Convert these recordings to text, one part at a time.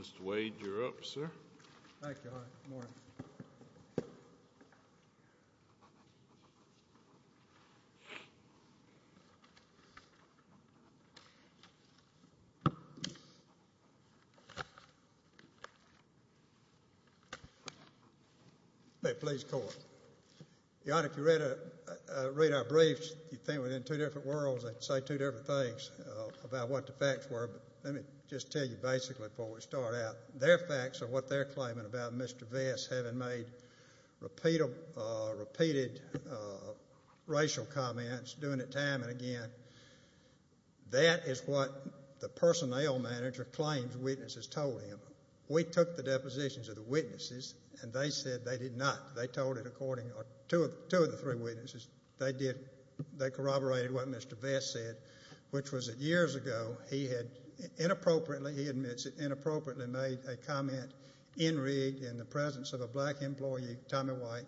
Mr. Wade, you're up, sir. Thank you. Your Honor, if you read our briefs, you'd think we're in two different worlds, they'd say two different things about what the facts were, but let me just tell you basically before we start out, their facts are what they're claiming about Mr. Vess having made repeated racial comments, doing it time and again. That is what the personnel manager claims witnesses told him. We took the depositions of the witnesses, and they said they did not. They told it according to two of the three witnesses. They corroborated what Mr. Vess said, which was that years ago, he had inappropriately made a comment en rigue in the presence of a black employee, Tommy White,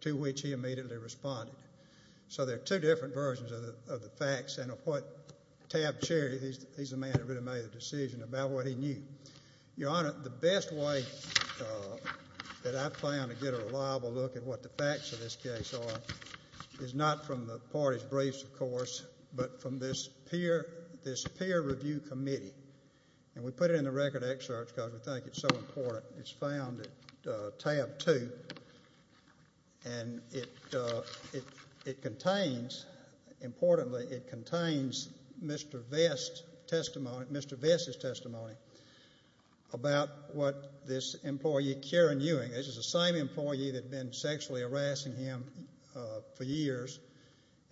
to which he immediately responded. So there are two different versions of the facts and of what Tab Cherry, he's the man that really made the decision about what he knew. Your Honor, the best way that I've found to get a reliable look at what the facts of this And we put it in the record excerpt because we think it's so important. It's found at tab two, and it contains, importantly, it contains Mr. Vess' testimony about what this employee, Karen Ewing, this is the same employee that had been sexually harassing him for years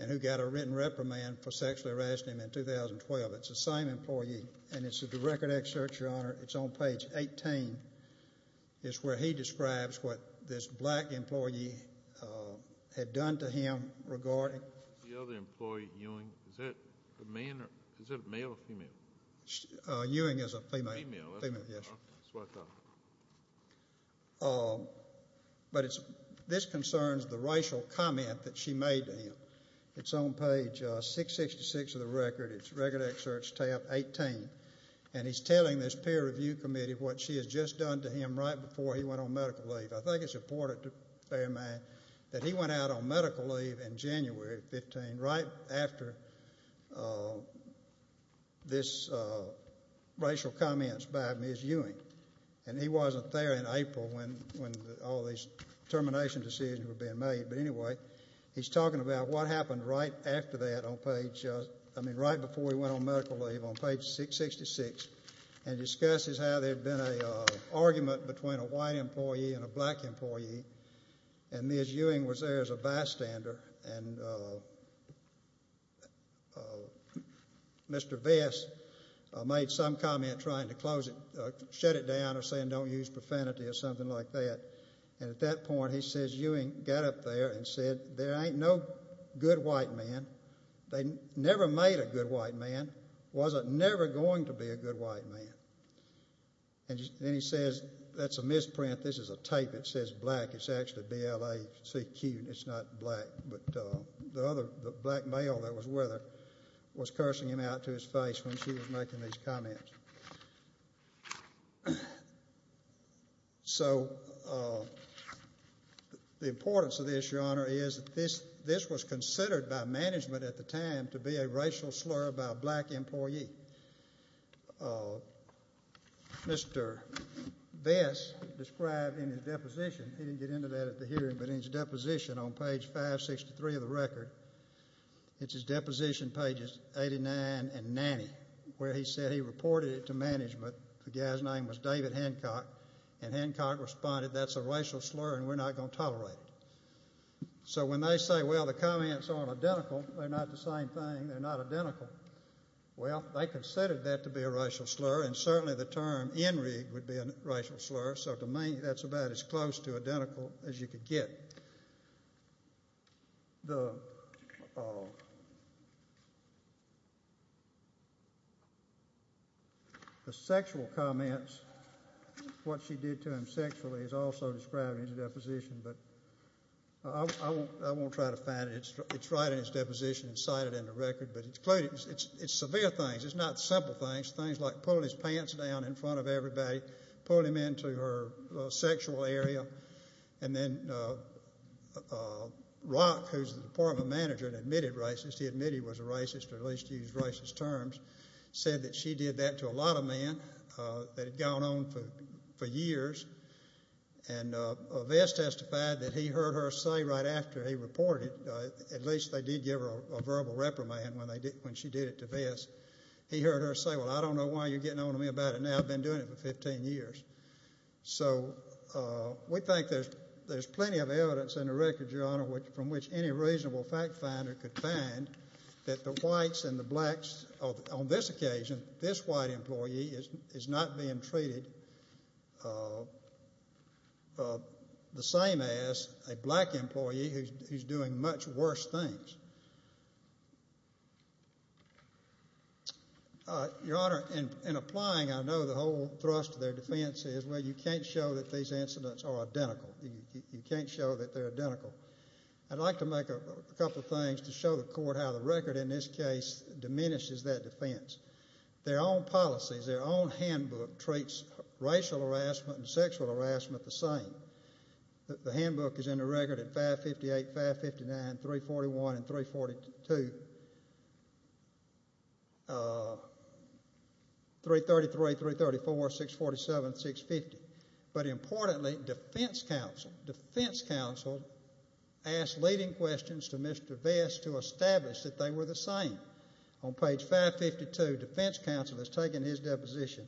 and who got a written reprimand for sexually harassing him in 2012. It's the same employee, and it's in the record excerpt, Your Honor. It's on page 18. It's where he describes what this black employee had done to him regarding The other employee, Ewing, is that a man or is that a male or female? Ewing is a female. Female, that's what I thought. But this concerns the racial comment that she made to him. It's on page 666 of the record. It's record excerpt tab 18, and he's telling this peer review committee what she had just done to him right before he went on medical leave. I think it's important to bear in mind that he went out on medical leave in January 15, right after this racial comment by Ms. Ewing, and he wasn't there in April when all these termination decisions were being made, but anyway, he's talking about what happened right after that on page, I mean right before he went on medical leave on page 666 and discusses how there had been an argument between a white employee and a black employee, and Ms. Ewing was there as a bystander, and Mr. Vest made some comment trying to close it, shut it down or saying don't use profanity or something like that, and at that point he says Ewing got up there and said there ain't no good white man. They never made a good white man, wasn't never going to be a good white man, and he says that's a misprint. This is a tape. It says black. It's actually B-L-A-C-Q, and it's not black, but the black male that was with her was cursing him out to his face when she was making these comments. So the importance of this, Your Honor, is this was considered by management at the time to be a racial slur by a black employee. Mr. Vest described in his deposition, he didn't get into that at the hearing, but in his deposition on page 563 of the record, it's his deposition pages 89 and 90 where he said he reported it to management. The guy's name was David Hancock, and Hancock responded that's a racial slur and we're not going to tolerate it. So when they say, well, the comments aren't identical, they're not the same thing, they're not identical, well, they considered that to be a racial slur, and certainly the term NRIG would be a racial slur, so to me that's about as close to identical as you could get. The sexual comments, what she did to him sexually is also described in his deposition, but I won't try to find it. It's right in his deposition and cited in the record, but it's severe things. It's not simple things. Things like pulling his pants down in front of everybody, pulling him into her sexual area, and then Rock, who's the department manager and admitted racist, he admitted he was a racist or at least used racist terms, said that she did that to a lot of men that had gone on for years, and Vest testified that he heard her say right after he reported, at least they did give her a verbal reprimand when she did it to Vest, he heard her say, well, I don't know why you're getting on to me about it now. I've been doing it for 15 years. So we think there's plenty of evidence in the record, Your Honor, from which any reasonable fact finder could find that the whites and the blacks, on this occasion, this white employee is not being treated the same as a black employee who's doing much worse things. Your Honor, in applying, I know the whole thrust of their defense is, well, you can't show that these incidents are identical. You can't show that they're identical. I'd like to make a couple of things to show the court how the record in this case diminishes that defense. Their own policies, their own handbook treats racial harassment and sexual harassment the same. The handbook is in the record at 558, 559, 341, and 342, 333, 334, 647, 650. But importantly, defense counsel, defense counsel asked leading questions to Mr. Vest to establish that they were the same. On page 552, defense counsel has taken his deposition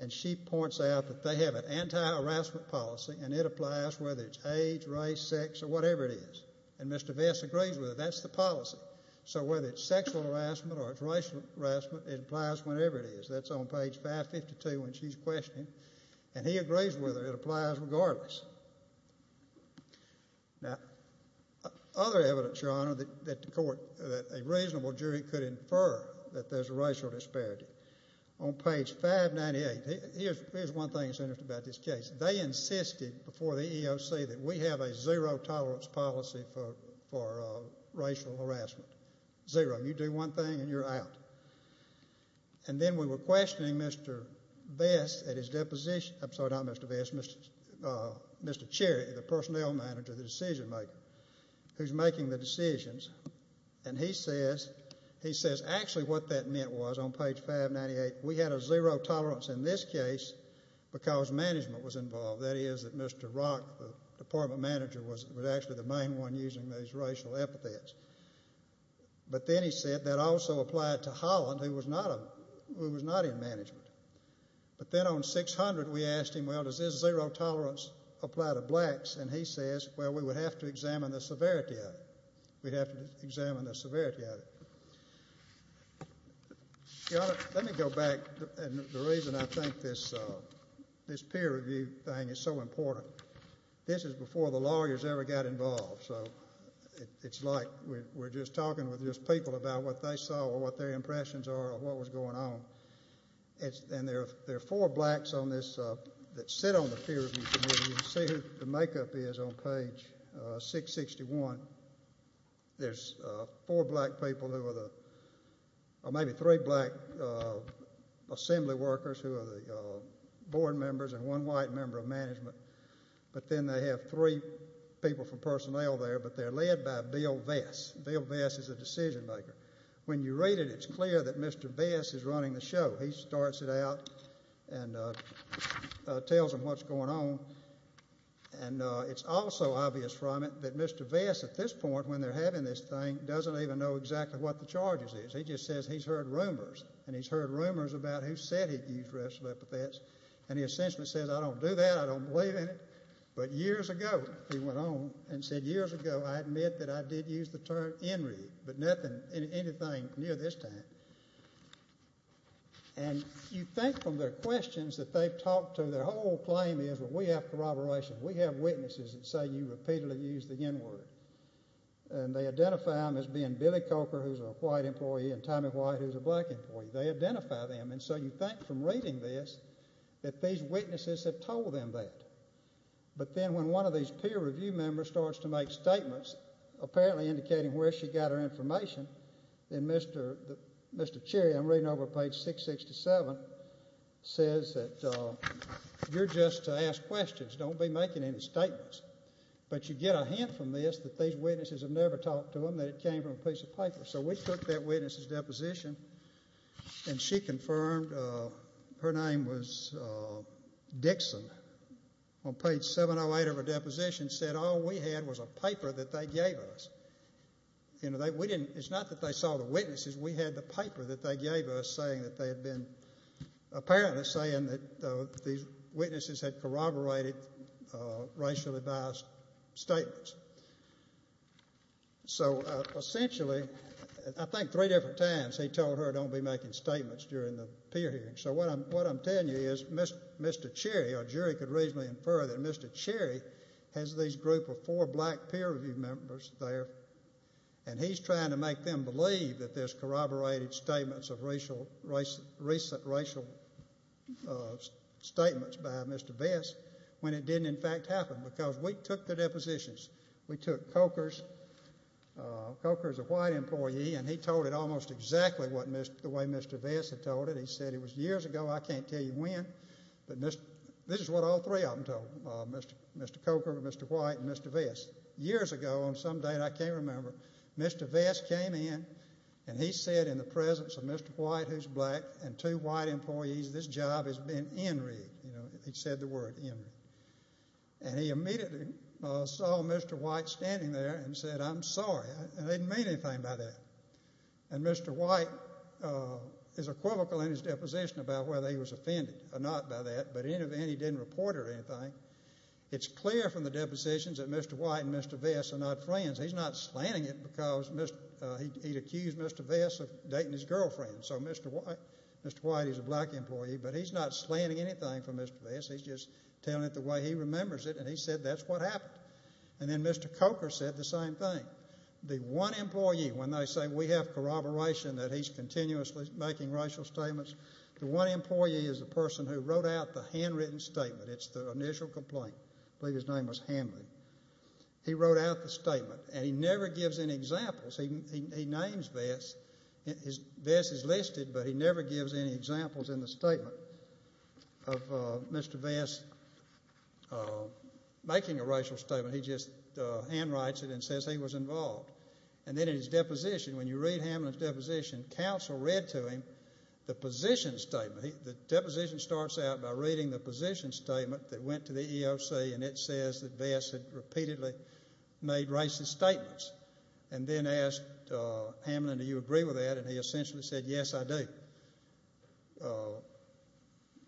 and she points out that they have an anti-harassment policy and it applies whether it's age, race, sex, or whatever it is. And Mr. Vest agrees with it. That's the policy. So whether it's sexual harassment or it's racial harassment, it applies whenever it is. That's on page 552 when she's questioning. And he agrees with her. It applies regardless. Now, other evidence, Your Honor, that the court, that a reasonable jury could infer that there's a racial disparity. On page 598, here's one thing that's interesting about this case. They insisted before the EEOC that we have a zero-tolerance policy for racial harassment. Zero. You do one thing and you're out. And then we were questioning Mr. Vest at his deposition, I'm sorry, not Mr. Vest, Mr. Cherry, the personnel manager, the decision-maker, who's making the decisions, and he says actually what that meant was on page 598, we had a zero-tolerance in this case because management was involved. That is that Mr. Rock, the department manager, was actually the main one using those racial epithets. But then he said that also applied to Holland, who was not in management. But then on 600, we asked him, well, does this zero-tolerance apply to blacks? And he says, well, we would have to examine the severity of it. We'd have to examine the severity of it. Your Honor, let me go back. And the reason I think this peer review thing is so important, this is before the lawyers ever got involved. So it's like we're just talking with just people about what they saw or what their impressions are of what was going on. And there are four blacks on this that sit on the peer review committee. You can see who the makeup is on page 661. There's four black people who are the, or maybe three black assembly workers who are the board members and one white member of management. But then they have three people from personnel there, but they're led by Bill Vess. Bill Vess is a decision maker. When you read it, it's clear that Mr. Vess is running the show. He starts it out and tells them what's going on. And it's also obvious from it that Mr. Vess, at this point when they're having this thing, doesn't even know exactly what the charges is. He just says he's heard rumors. And he's heard rumors about who said he'd use racial epithets. And he essentially says, I don't do that. I don't believe in it. But years ago, he went on and said, years ago, I admit that I did use the term in-read, but nothing, anything near this time. And you think from their questions that they've talked to, their whole claim is, well, we have corroboration. We have witnesses that say you repeatedly used the n-word. And they identify them as being Billy Coker, who's a white employee, and Tommy White, who's a black employee. They identify them. And so you think from reading this that these witnesses have told them that. But then when one of these peer review members starts to make statements, apparently indicating where she got her information, then Mr. Cherry, I'm reading over page 667, says that you're just to ask questions. Don't be making any statements. But you get a hint from this that these witnesses have never talked to them, that it came from a piece of paper. So we took that witness's deposition, and she confirmed her name was Dixon. On page 708 of her deposition said all we had was a paper that they gave us. You know, we didn't, it's not that they saw the witnesses. We had the paper that they gave us saying that they had been, apparently saying that these witnesses had corroborated racially biased statements. So essentially, I think three different times he told her don't be making statements during the peer hearing. So what I'm telling you is Mr. Cherry, our jury could reasonably infer, that Mr. Cherry has this group of four black peer review members there, and he's trying to make them believe that there's corroborated statements of recent racial statements by Mr. Bess, when it didn't in fact happen, because we took the depositions. We took Coker's, Coker's a white employee, and he told it almost exactly the way Mr. Bess had told it. He said it was years ago, I can't tell you when, but this is what all three of them told, Mr. Coker, Mr. White, and Mr. Bess. Years ago on some date, I can't remember, Mr. Bess came in, and he said in the presence of Mr. White, who's black, and two white employees, this job has been in read. He said the word, in read. And he immediately saw Mr. White standing there and said, I'm sorry. I didn't mean anything by that. And Mr. White is equivocal in his deposition about whether he was offended or not by that, but in the end he didn't report or anything. It's clear from the depositions that Mr. White and Mr. Bess are not friends. He's not slanting it because he'd accused Mr. Bess of dating his girlfriend. So Mr. White is a black employee, but he's not slanting anything from Mr. Bess. He's just telling it the way he remembers it, and he said that's what happened. And then Mr. Coker said the same thing. The one employee, when they say we have corroboration that he's continuously making racial statements, the one employee is the person who wrote out the handwritten statement. It's the initial complaint. I believe his name was Hanley. He wrote out the statement, and he never gives any examples. He names Bess. Bess is listed, but he never gives any examples in the statement of Mr. Bess making a racial statement. He just handwrites it and says he was involved. And then in his deposition, when you read Hanley's deposition, counsel read to him the position statement. The deposition starts out by reading the position statement that went to the EOC, and it says that Bess had repeatedly made racist statements and then asked Hamlin, do you agree with that? And he essentially said, yes, I do.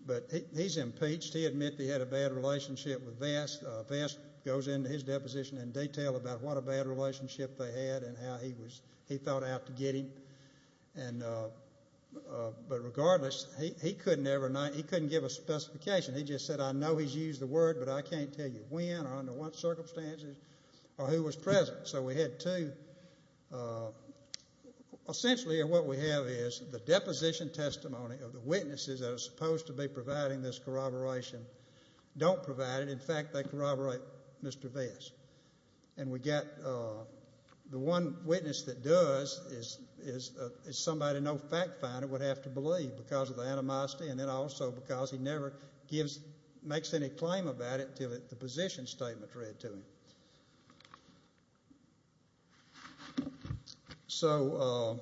But he's impeached. He admitted he had a bad relationship with Bess. Bess goes into his deposition in detail about what a bad relationship they had and how he thought out to get him. But regardless, he couldn't give a specification. He just said, I know he's used the word, but I can't tell you when or under what circumstances or who was present. So we had two. Essentially what we have is the deposition testimony of the witnesses that are supposed to be providing this corroboration don't provide it. In fact, they corroborate Mr. Bess. And the one witness that does is somebody no fact finder would have to believe because of the animosity and then also because he never makes any claim about it until the position statement's read to him. So,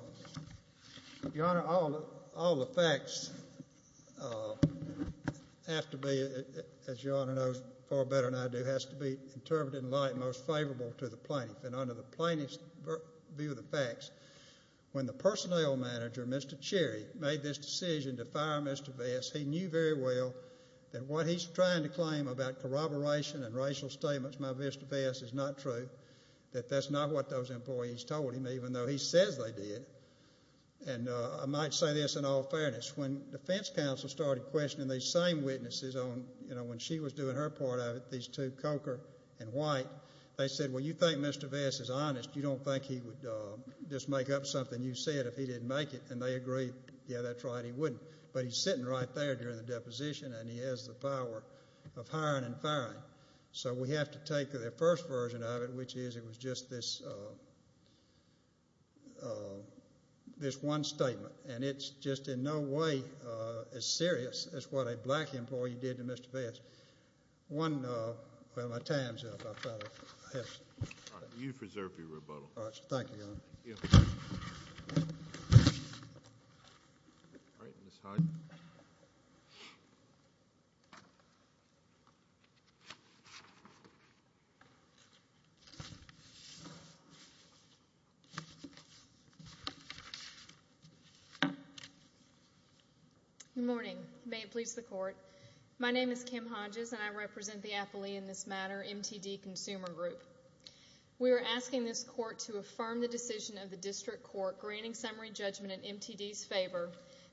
Your Honor, all the facts have to be, as Your Honor knows far better than I do, has to be interpreted in light most favorable to the plaintiff. And under the plaintiff's view of the facts, when the personnel manager, Mr. Cherry, made this decision to fire Mr. Bess, he knew very well that what he's trying to claim about corroboration and racial statements by Mr. Bess is not true, that that's not what those employees told him even though he says they did. And I might say this in all fairness. When defense counsel started questioning these same witnesses on, you know, when she was doing her part of it, these two, Coker and White, they said, well, you think Mr. Bess is honest. You don't think he would just make up something you said if he didn't make it. And they agreed, yeah, that's right, he wouldn't. But he's sitting right there during the deposition, and he has the power of hiring and firing. So we have to take the first version of it, which is it was just this one statement. And it's just in no way as serious as what a black employee did to Mr. Bess. One, well, my time's up. You preserve your rebuttal. Thank you, Your Honor. Good morning. May it please the Court. My name is Kim Hodges, and I represent the Appellee in this matter, MTD Consumer Group. We are asking this court to affirm the decision of the district court granting summary judgment in MTD's favor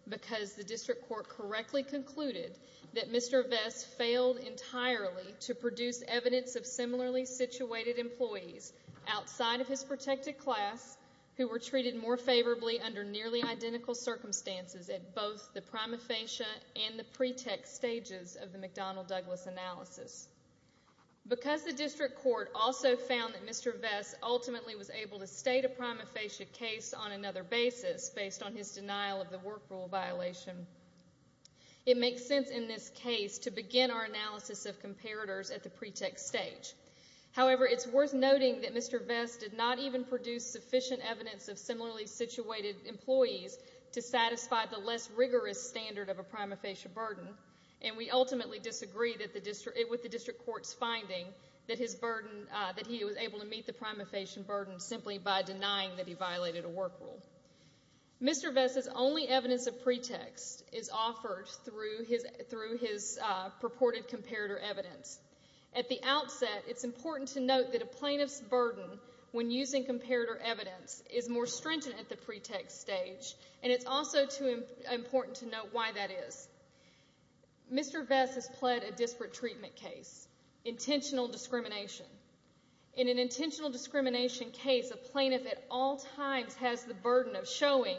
because the district court correctly concluded that Mr. Bess failed entirely to produce evidence of similarly situated employees outside of his protected class who were treated more favorably under nearly identical circumstances at both the prima facie and the pretext stages of the McDonnell-Douglas analysis. Because the district court also found that Mr. Bess ultimately was able to state a prima facie case on another basis based on his denial of the work rule violation, it makes sense in this case to begin our analysis of comparators at the pretext stage. However, it's worth noting that Mr. Bess did not even produce sufficient evidence of similarly situated employees to satisfy the less rigorous standard of a prima facie burden, and we ultimately disagree with the district court's finding that he was able to meet the prima facie burden simply by denying that he violated a work rule. Mr. Bess's only evidence of pretext is offered through his purported comparator evidence. At the outset, it's important to note that a plaintiff's burden when using comparator evidence is more stringent at the pretext stage, and it's also important to note why that is. Mr. Bess has pled a disparate treatment case, intentional discrimination. In an intentional discrimination case, a plaintiff at all times has the burden of showing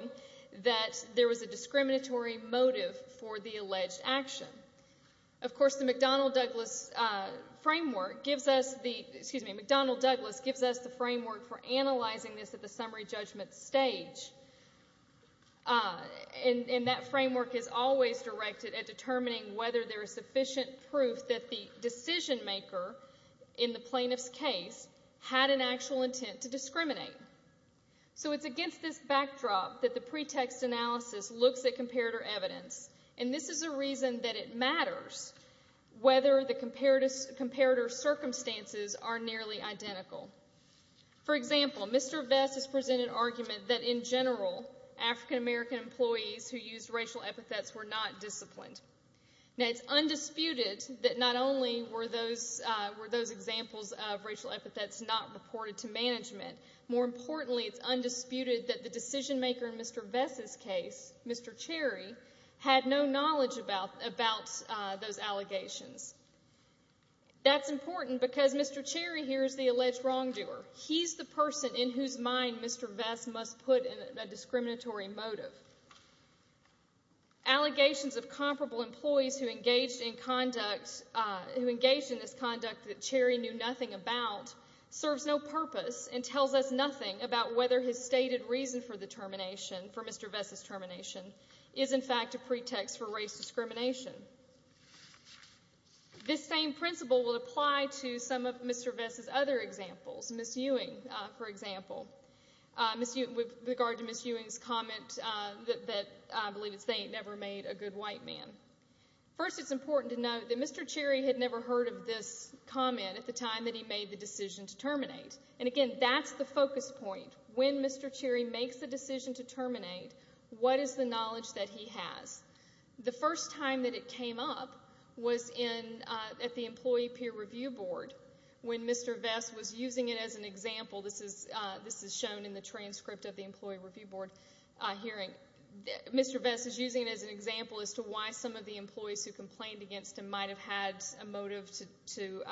that there was a discriminatory motive for the alleged action. Of course, the McDonnell-Douglas framework gives us the framework for analyzing this at the summary judgment stage, and that framework is always directed at determining whether there is sufficient proof that the decision maker in the plaintiff's case had an actual intent to discriminate. So it's against this backdrop that the pretext analysis looks at comparator evidence, and this is a reason that it matters whether the comparator circumstances are nearly identical. For example, Mr. Bess has presented an argument that, in general, African-American employees who used racial epithets were not disciplined. Now, it's undisputed that not only were those examples of racial epithets not reported to management, more importantly, it's undisputed that the decision maker in Mr. Bess's case, Mr. Cherry, had no knowledge about those allegations. That's important because Mr. Cherry here is the alleged wrongdoer. He's the person in whose mind Mr. Bess must put a discriminatory motive. Allegations of comparable employees who engaged in this conduct that Cherry knew nothing about serves no purpose and tells us nothing about whether his stated reason for the termination, for Mr. Bess's termination, is, in fact, a pretext for race discrimination. This same principle will apply to some of Mr. Bess's other examples, Ms. Ewing, for example, with regard to Ms. Ewing's comment that, I believe it's they ain't never made a good white man. First, it's important to note that Mr. Cherry had never heard of this comment at the time that he made the decision to terminate. And, again, that's the focus point. When Mr. Cherry makes the decision to terminate, what is the knowledge that he has? The first time that it came up was at the Employee Peer Review Board when Mr. Bess was using it as an example. This is shown in the transcript of the Employee Review Board hearing. Mr. Bess is using it as an example as to why some of the employees who complained against him might have had a motive to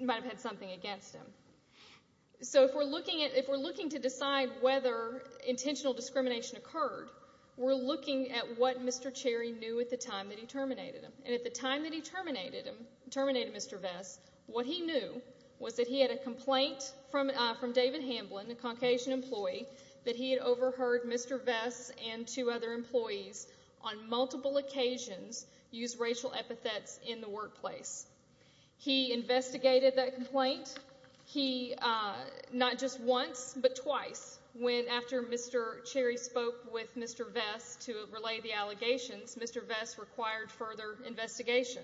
might have had something against him. So if we're looking to decide whether intentional discrimination occurred, we're looking at what Mr. Cherry knew at the time that he terminated him. And at the time that he terminated Mr. Bess, what he knew was that he had a complaint from David Hamblin, a Caucasian employee, that he had overheard Mr. Bess and two other employees on multiple occasions use racial epithets in the workplace. He investigated that complaint, not just once, but twice, when after Mr. Cherry spoke with Mr. Bess to relay the allegations, Mr. Bess required further investigation,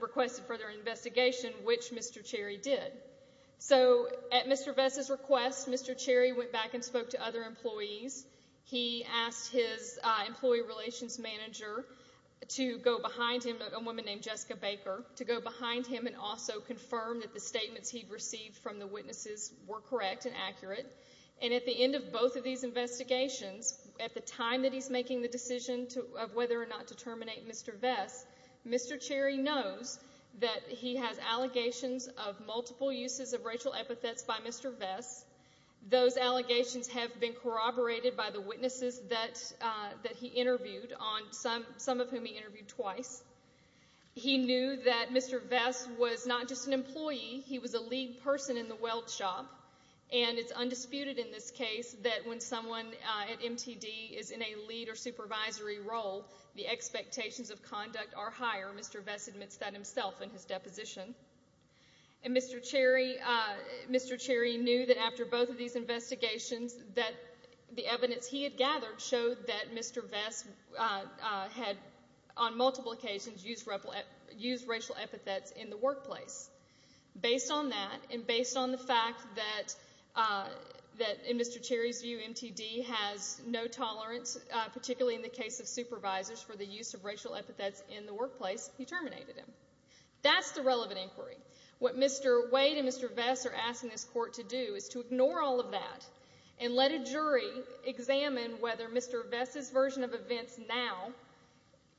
requested further investigation, which Mr. Cherry did. So at Mr. Bess's request, Mr. Cherry went back and spoke to other employees. He asked his employee relations manager to go behind him, a woman named Jessica Baker, to go behind him and also confirm that the statements he'd received from the witnesses were correct and accurate. And at the end of both of these investigations, at the time that he's making the decision of whether or not to terminate Mr. Bess, Mr. Cherry knows that he has allegations of multiple uses of racial epithets by Mr. Bess. Those allegations have been corroborated by the witnesses that he interviewed, some of whom he interviewed twice. He knew that Mr. Bess was not just an employee, he was a lead person in the weld shop, and it's undisputed in this case that when someone at MTD is in a lead or supervisory role, the expectations of conduct are higher. Mr. Bess admits that himself in his deposition. And Mr. Cherry knew that after both of these investigations that the evidence he had gathered showed that Mr. Bess had, on multiple occasions, used racial epithets in the workplace. Based on that and based on the fact that, in Mr. Cherry's view, MTD has no tolerance, particularly in the case of supervisors, for the use of racial epithets in the workplace, he terminated him. That's the relevant inquiry. What Mr. Wade and Mr. Bess are asking this court to do is to ignore all of that and let a jury examine whether Mr. Bess's version of events now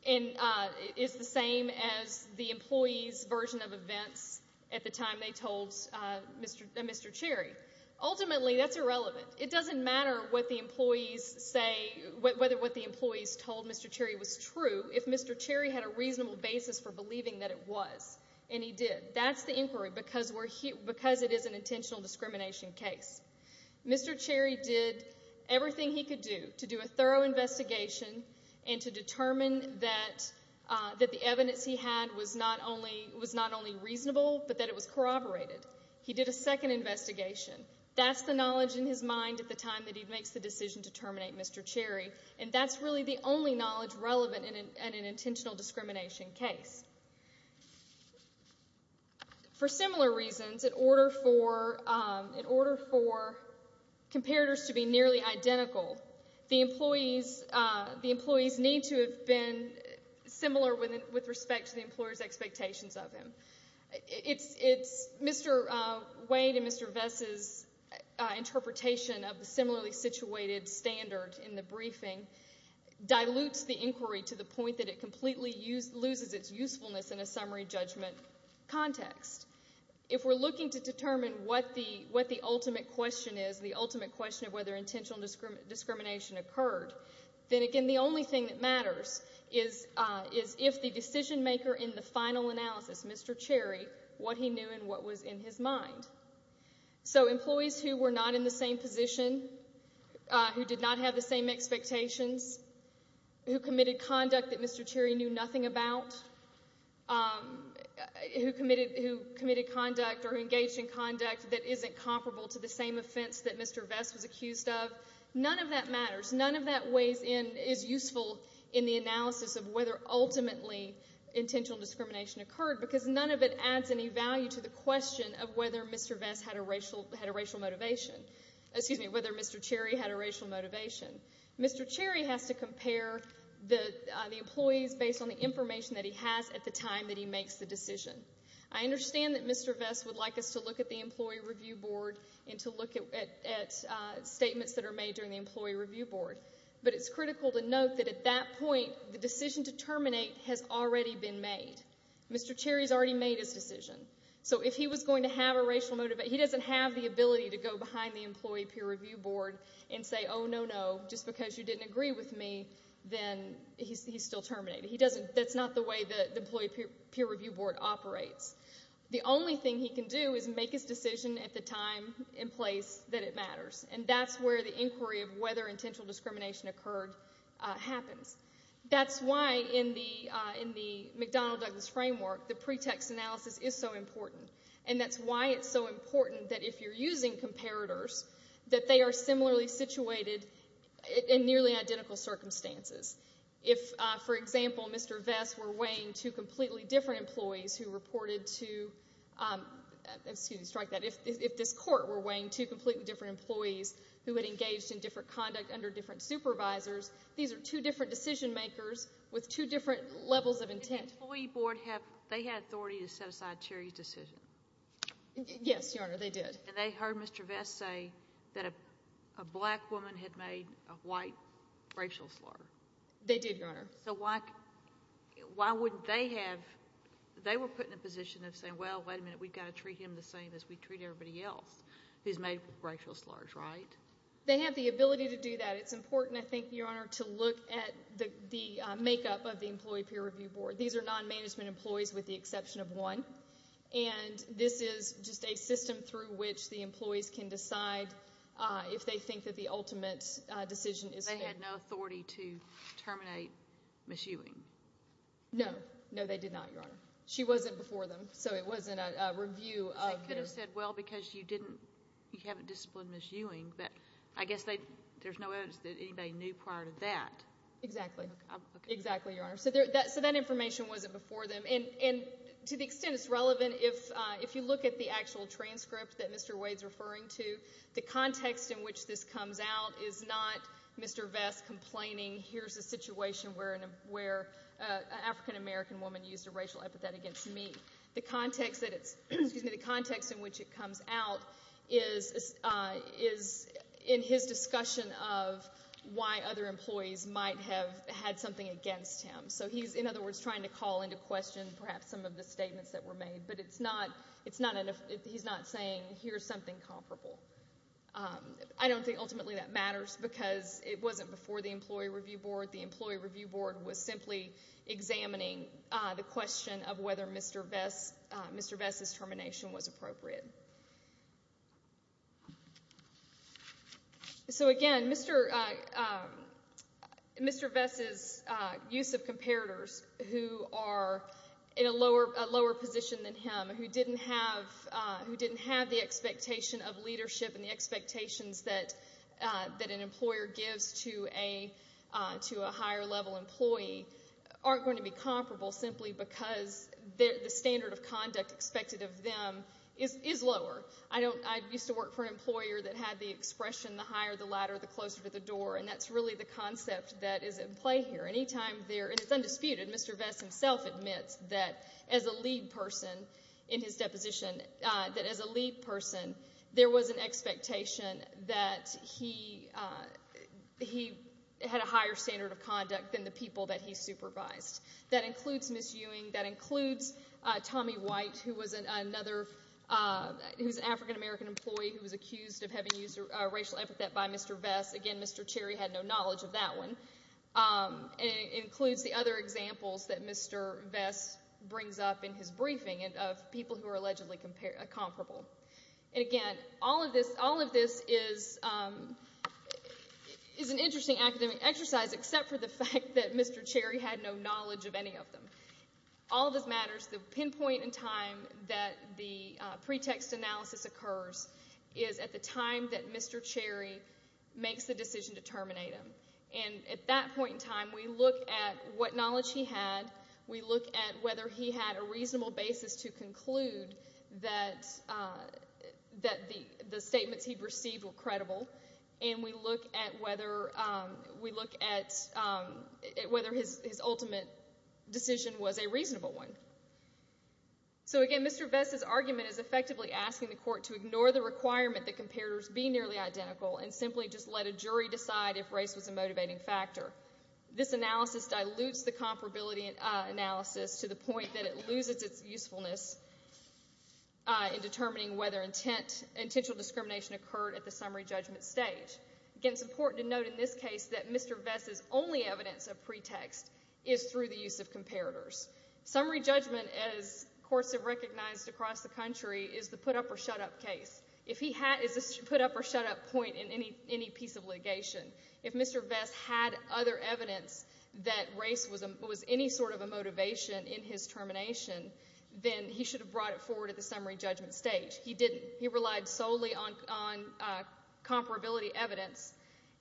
is the same as the employee's version of events at the time they told Mr. Cherry. Ultimately, that's irrelevant. It doesn't matter what the employees say, whether what the employees told Mr. Cherry was true, if Mr. Cherry had a reasonable basis for believing that it was, and he did. That's the inquiry because it is an intentional discrimination case. Mr. Cherry did everything he could do to do a thorough investigation and to determine that the evidence he had was not only reasonable but that it was corroborated. He did a second investigation. That's the knowledge in his mind at the time that he makes the decision to terminate Mr. Cherry, and that's really the only knowledge relevant in an intentional discrimination case. For similar reasons, in order for comparators to be nearly identical, the employees need to have been similar with respect to the employer's expectations of him. Mr. Wade and Mr. Bess's interpretation of the similarly situated standard in the briefing dilutes the inquiry to the point that it completely loses its usefulness in a summary judgment context. If we're looking to determine what the ultimate question is, the ultimate question of whether intentional discrimination occurred, then, again, the only thing that matters is if the decision maker in the final analysis, Mr. Cherry, what he knew and what was in his mind. So employees who were not in the same position, who did not have the same expectations, who committed conduct that Mr. Cherry knew nothing about, who committed conduct or engaged in conduct that isn't comparable to the same offense that Mr. Bess was accused of, none of that matters. None of that weighs in, is useful in the analysis of whether ultimately intentional discrimination occurred because none of it adds any value to the question of whether Mr. Bess had a racial motivation. Excuse me, whether Mr. Cherry had a racial motivation. Mr. Cherry has to compare the employees based on the information that he has at the time that he makes the decision. I understand that Mr. Bess would like us to look at the employee review board and to look at statements that are made during the employee review board, but it's critical to note that at that point the decision to terminate has already been made. Mr. Cherry has already made his decision. So if he was going to have a racial motivation, he doesn't have the ability to go behind the employee peer review board and say, oh, no, no, just because you didn't agree with me, then he's still terminated. That's not the way the employee peer review board operates. The only thing he can do is make his decision at the time and place that it matters, and that's where the inquiry of whether intentional discrimination occurred happens. That's why in the McDonnell-Douglas framework the pretext analysis is so important, and that's why it's so important that if you're using comparators, that they are similarly situated in nearly identical circumstances. If, for example, Mr. Vest were weighing two completely different employees who reported to, excuse me, strike that, if this court were weighing two completely different employees who had engaged in different conduct under different supervisors, these are two different decision makers with two different levels of intent. Did the employee board have, they had authority to set aside Cherry's decision? Yes, Your Honor, they did. And they heard Mr. Vest say that a black woman had made a white racial slur? They did, Your Honor. So why wouldn't they have, they were put in a position of saying, well, wait a minute, we've got to treat him the same as we treat everybody else who's made racial slurs, right? They have the ability to do that. It's important, I think, Your Honor, to look at the makeup of the employee peer review board. These are non-management employees with the exception of one, and this is just a system through which the employees can decide if they think that the ultimate decision is fair. They had no authority to terminate Ms. Ewing? No, no, they did not, Your Honor. She wasn't before them, so it wasn't a review of her. They could have said, well, because you didn't, you haven't disciplined Ms. Ewing, but I guess there's no evidence that anybody knew prior to that. Exactly, exactly, Your Honor. So that information wasn't before them. And to the extent it's relevant, if you look at the actual transcript that Mr. Wade's referring to, the context in which this comes out is not Mr. Vest complaining, here's a situation where an African-American woman used a racial epithet against me. The context in which it comes out is in his discussion of why other employees might have had something against him. So he's, in other words, trying to call into question perhaps some of the statements that were made, but he's not saying here's something comparable. I don't think ultimately that matters because it wasn't before the Employee Review Board. The Employee Review Board was simply examining the question of whether Mr. Vest's termination was appropriate. So, again, Mr. Vest's use of comparators who are in a lower position than him, who didn't have the expectation of leadership and the expectations that an employer gives to a higher level employee aren't going to be comparable simply because the standard of conduct expected of them is lower. I used to work for an employer that had the expression, the higher the ladder, the closer to the door, and that's really the concept that is in play here. Any time there, and it's undisputed, Mr. Vest himself admits that as a lead person in his deposition, that as a lead person there was an expectation that he had a higher standard of conduct than the people that he supervised. That includes Ms. Ewing, that includes Tommy White, who was an African-American employee who was accused of having used a racial epithet by Mr. Vest. Again, Mr. Cherry had no knowledge of that one. It includes the other examples that Mr. Vest brings up in his briefing of people who are allegedly comparable. And, again, all of this is an interesting academic exercise, except for the fact that Mr. Cherry had no knowledge of any of them. All of this matters. The pinpoint in time that the pretext analysis occurs is at the time that Mr. Cherry makes the decision to terminate him. And at that point in time, we look at what knowledge he had, we look at whether he had a reasonable basis to conclude that the statements he received were credible, and we look at whether his ultimate decision was a reasonable one. So, again, Mr. Vest's argument is effectively asking the court to ignore the requirement that comparators be nearly identical and simply just let a jury decide if race was a motivating factor. This analysis dilutes the comparability analysis to the point that it loses its usefulness in determining whether intentional discrimination occurred at the summary judgment stage. Again, it's important to note in this case that Mr. Vest's only evidence of pretext is through the use of comparators. Summary judgment, as courts have recognized across the country, is the put-up-or-shut-up case. If he has a put-up-or-shut-up point in any piece of litigation, if Mr. Vest had other evidence that race was any sort of a motivation in his termination, then he should have brought it forward at the summary judgment stage. He didn't. He relied solely on comparability evidence,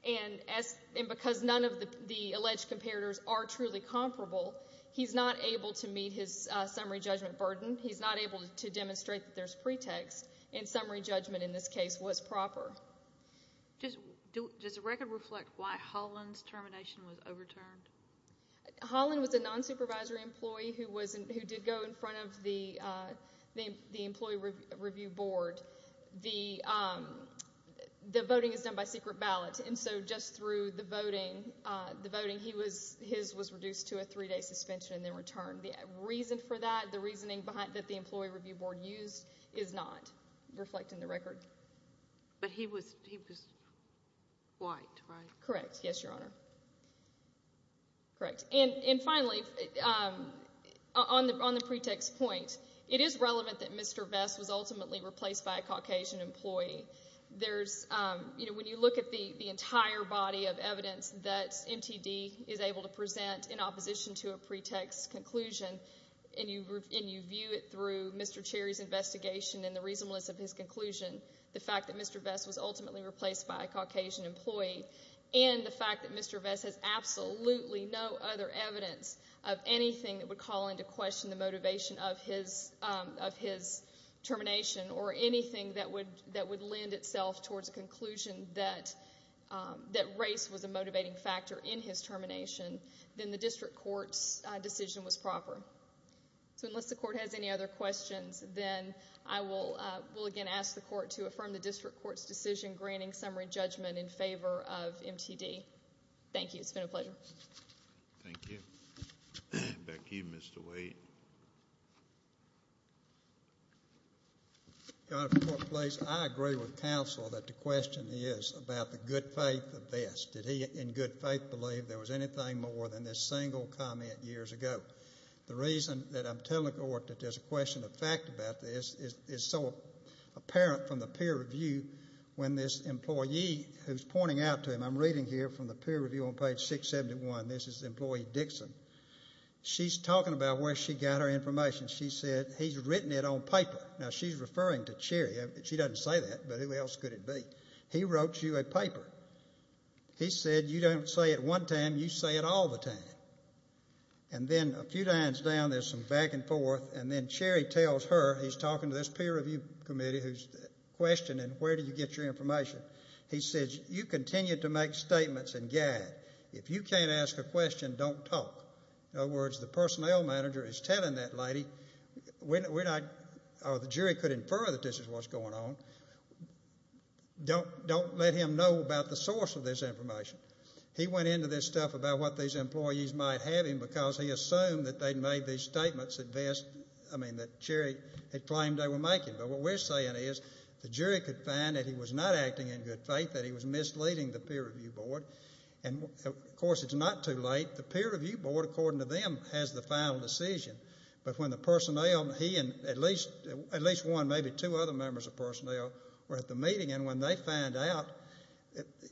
and because none of the alleged comparators are truly comparable, he's not able to meet his summary judgment burden. He's not able to demonstrate that there's pretext, and summary judgment in this case was proper. Does the record reflect why Holland's termination was overturned? Holland was a nonsupervisory employee who did go in front of the Employee Review Board. The voting is done by secret ballot, and so just through the voting, his was reduced to a three-day suspension and then returned. The reason for that, the reasoning that the Employee Review Board used is not reflected in the record. But he was white, right? Correct. Yes, Your Honor. Correct. And finally, on the pretext point, it is relevant that Mr. Vest was ultimately replaced by a Caucasian employee. When you look at the entire body of evidence that MTD is able to present in opposition to a pretext conclusion and you view it through Mr. Cherry's investigation and the reasonableness of his conclusion, the fact that Mr. Vest was ultimately replaced by a Caucasian employee and the fact that Mr. Vest has absolutely no other evidence of anything that would call into question the motivation of his termination or anything that would lend itself towards a conclusion that race was a motivating factor in his termination, then the district court's decision was proper. So unless the court has any other questions, then I will again ask the court to affirm the district court's decision granting summary judgment in favor of MTD. Thank you. It's been a pleasure. Thank you. Back to you, Mr. Waite. Your Honor, if the court please, I agree with counsel that the question is about the good faith of Vest. Did he in good faith believe there was anything more than this single comment years ago? The reason that I'm telling the court that there's a question of fact about this is so apparent from the peer review when this employee who's pointing out to him, I'm reading here from the peer review on page 671, this is employee Dixon. She's talking about where she got her information. She said he's written it on paper. Now she's referring to Cherry. She doesn't say that, but who else could it be? He wrote you a paper. He said you don't say it one time, you say it all the time. And then a few times down there's some back and forth, and then Cherry tells her, he's talking to this peer review committee who's questioning where did you get your information. He says you continue to make statements and gag. If you can't ask a question, don't talk. In other words, the personnel manager is telling that lady, or the jury could infer that this is what's going on, don't let him know about the source of this information. He went into this stuff about what these employees might have him because he assumed that they'd made these statements that Cherry had claimed they were making. But what we're saying is the jury could find that he was not acting in good faith, that he was misleading the peer review board. And, of course, it's not too late. The peer review board, according to them, has the final decision. But when the personnel, he and at least one, maybe two other members of personnel, were at the meeting and when they found out,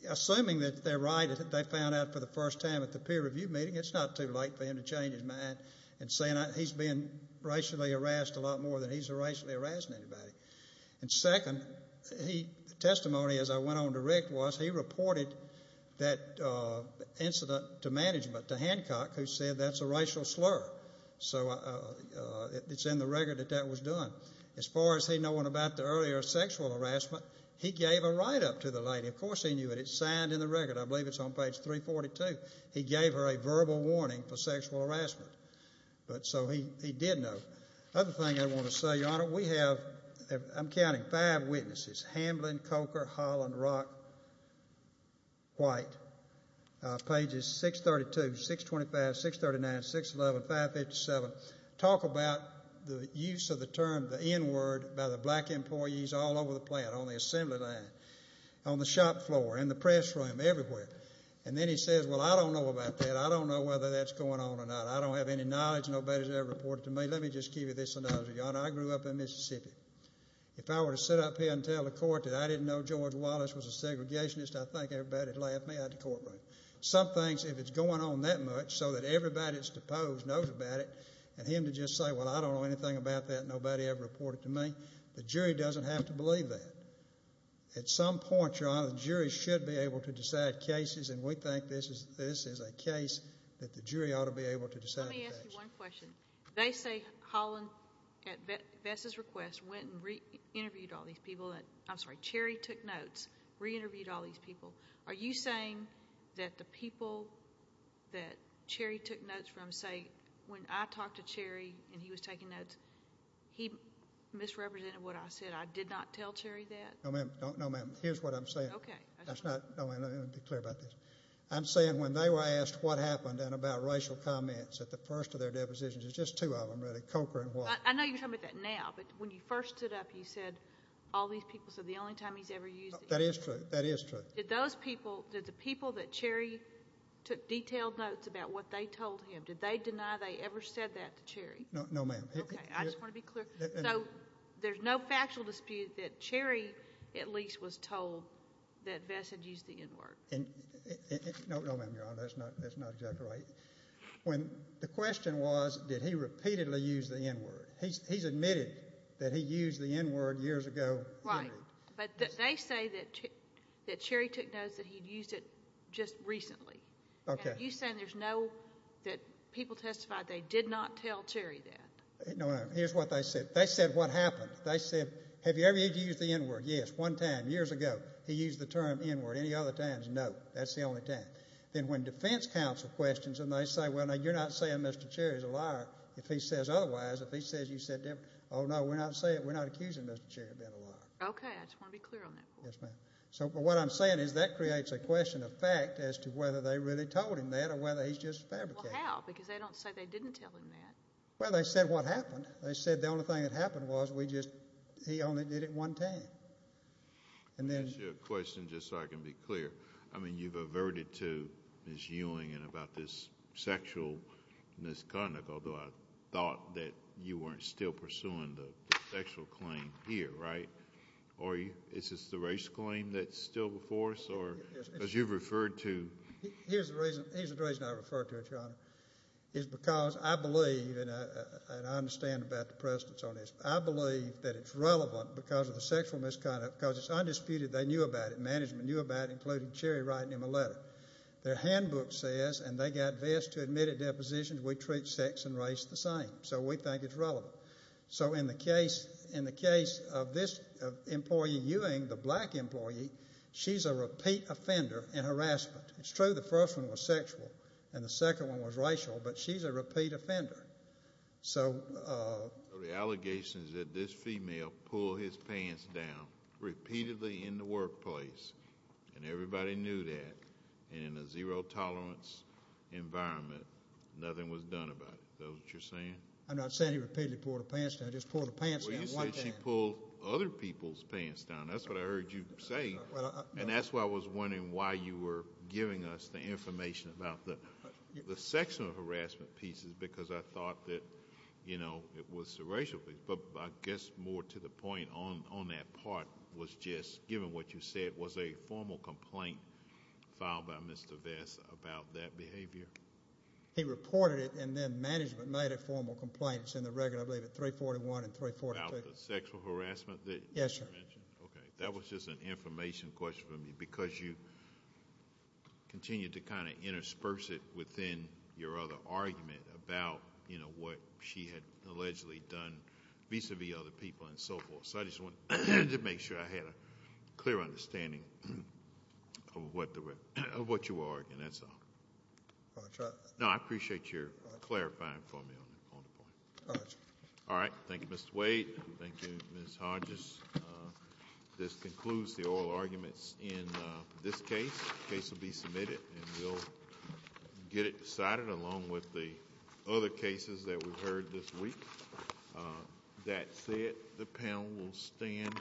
assuming that they're right, that they found out for the first time at the peer review meeting, it's not too late for him to change his mind and say he's being racially harassed a lot more than he's racially harassing anybody. And second, testimony as I went on to Rick was he reported that incident to management, to Hancock, who said that's a racial slur. So it's in the record that that was done. As far as he knowing about the earlier sexual harassment, he gave a write-up to the lady. Of course he knew it. It's signed in the record. I believe it's on page 342. He gave her a verbal warning for sexual harassment. So he did know. The other thing I want to say, Your Honor, we have, I'm counting, five witnesses, Hamblin, Coker, Holland, Rock, White, pages 632, 625, 639, 611, 557, talk about the use of the term the N-word by the black employees all over the plant, on the assembly line, on the shop floor, in the press room, everywhere. And then he says, Well, I don't know about that. I don't know whether that's going on or not. I don't have any knowledge. Nobody's ever reported to me. Let me just give you this, Your Honor. I grew up in Mississippi. If I were to sit up here and tell the court that I didn't know George Wallace was a segregationist, I think everybody would laugh me out of the courtroom. Some things, if it's going on that much, so that everybody that's deposed knows about it, and him to just say, Well, I don't know anything about that. Nobody ever reported to me. The jury doesn't have to believe that. At some point, Your Honor, the jury should be able to decide cases, and we think this is a case that the jury ought to be able to decide the case. Let me ask you one question. They say Holland, at Vess's request, went and re-interviewed all these people. I'm sorry, Cherry took notes, re-interviewed all these people. Are you saying that the people that Cherry took notes from say, When I talked to Cherry and he was taking notes, he misrepresented what I said? I did not tell Cherry that? No, ma'am. Here's what I'm saying. Okay. No, ma'am. Let me be clear about this. I'm saying when they were asked what happened and about racial comments at the first of their depositions, it was just two of them, really, Coker and Wallace. I know you're talking about that now, but when you first stood up, you said, All these people said the only time he's ever used these people. That is true. That is true. Did those people, did the people that Cherry took detailed notes about what they told him, did they deny they ever said that to Cherry? No, ma'am. Okay. I just want to be clear. So there's no factual dispute that Cherry at least was told that Vess had used the N-word? No, ma'am, Your Honor. That's not exactly right. The question was, did he repeatedly use the N-word? He's admitted that he used the N-word years ago. Right. But they say that Cherry took notes that he'd used it just recently. Okay. Are you saying there's no, that people testified they did not tell Cherry that? No, ma'am. Here's what they said. They said what happened. They said, Have you ever used the N-word? Yes. One time, years ago. He used the term N-word. Any other times, no. That's the only time. Then when defense counsel questions them, they say, Well, no, you're not saying Mr. Cherry's a liar. If he says otherwise, if he says you said different, oh, no, we're not accusing Mr. Cherry of being a liar. Okay. I just want to be clear on that point. Yes, ma'am. So what I'm saying is that creates a question of fact as to whether they really told him that or whether he's just fabricating it. Well, how? Because they don't say they didn't tell him that. Well, they said what happened. They said the only thing that happened was we just, he only did it one time. And then – Let me ask you a question just so I can be clear. I mean, you've averted to Ms. Ewing and about this sexual misconduct, although I thought that you weren't still pursuing the sexual claim here, right? Or is this the racial claim that's still before us? Because you've referred to – Here's the reason I referred to it, Your Honor, is because I believe and I understand about the precedence on this. I believe that it's relevant because of the sexual misconduct because it's undisputed. They knew about it. Management knew about it, including Cherry writing him a letter. Their handbook says, and they got Vest to admit at depositions, we treat sex and race the same. So we think it's relevant. So in the case of this employee, Ewing, the black employee, she's a repeat offender in harassment. It's true the first one was sexual and the second one was racial, but she's a repeat offender. So – So the allegation is that this female pulled his pants down repeatedly in the workplace, and everybody knew that, and in a zero tolerance environment, nothing was done about it. Is that what you're saying? I'm not saying he repeatedly pulled her pants down. He just pulled her pants down one time. Well, you said she pulled other people's pants down. That's what I heard you say. And that's why I was wondering why you were giving us the information about the sexual harassment pieces because I thought that, you know, it was the racial piece. But I guess more to the point on that part was just, given what you said, was there a formal complaint filed by Mr. Vest about that behavior? He reported it, and then management made a formal complaint. It's in the record, I believe, at 341 and 342. About the sexual harassment that you mentioned? Yes, sir. Okay. That was just an information question for me because you continued to kind of intersperse it within your other argument about, you know, what she had allegedly done vis-à-vis other people and so forth. So I just wanted to make sure I had a clear understanding of what you were arguing. That's all. Roger. No, I appreciate your clarifying for me on the point. Roger. All right. Thank you, Mr. Wade. Thank you, Ms. Hodges. This concludes the oral arguments in this case. The case will be submitted, and we'll get it decided along with the other cases that we've heard this week. That's it. The panel will stand.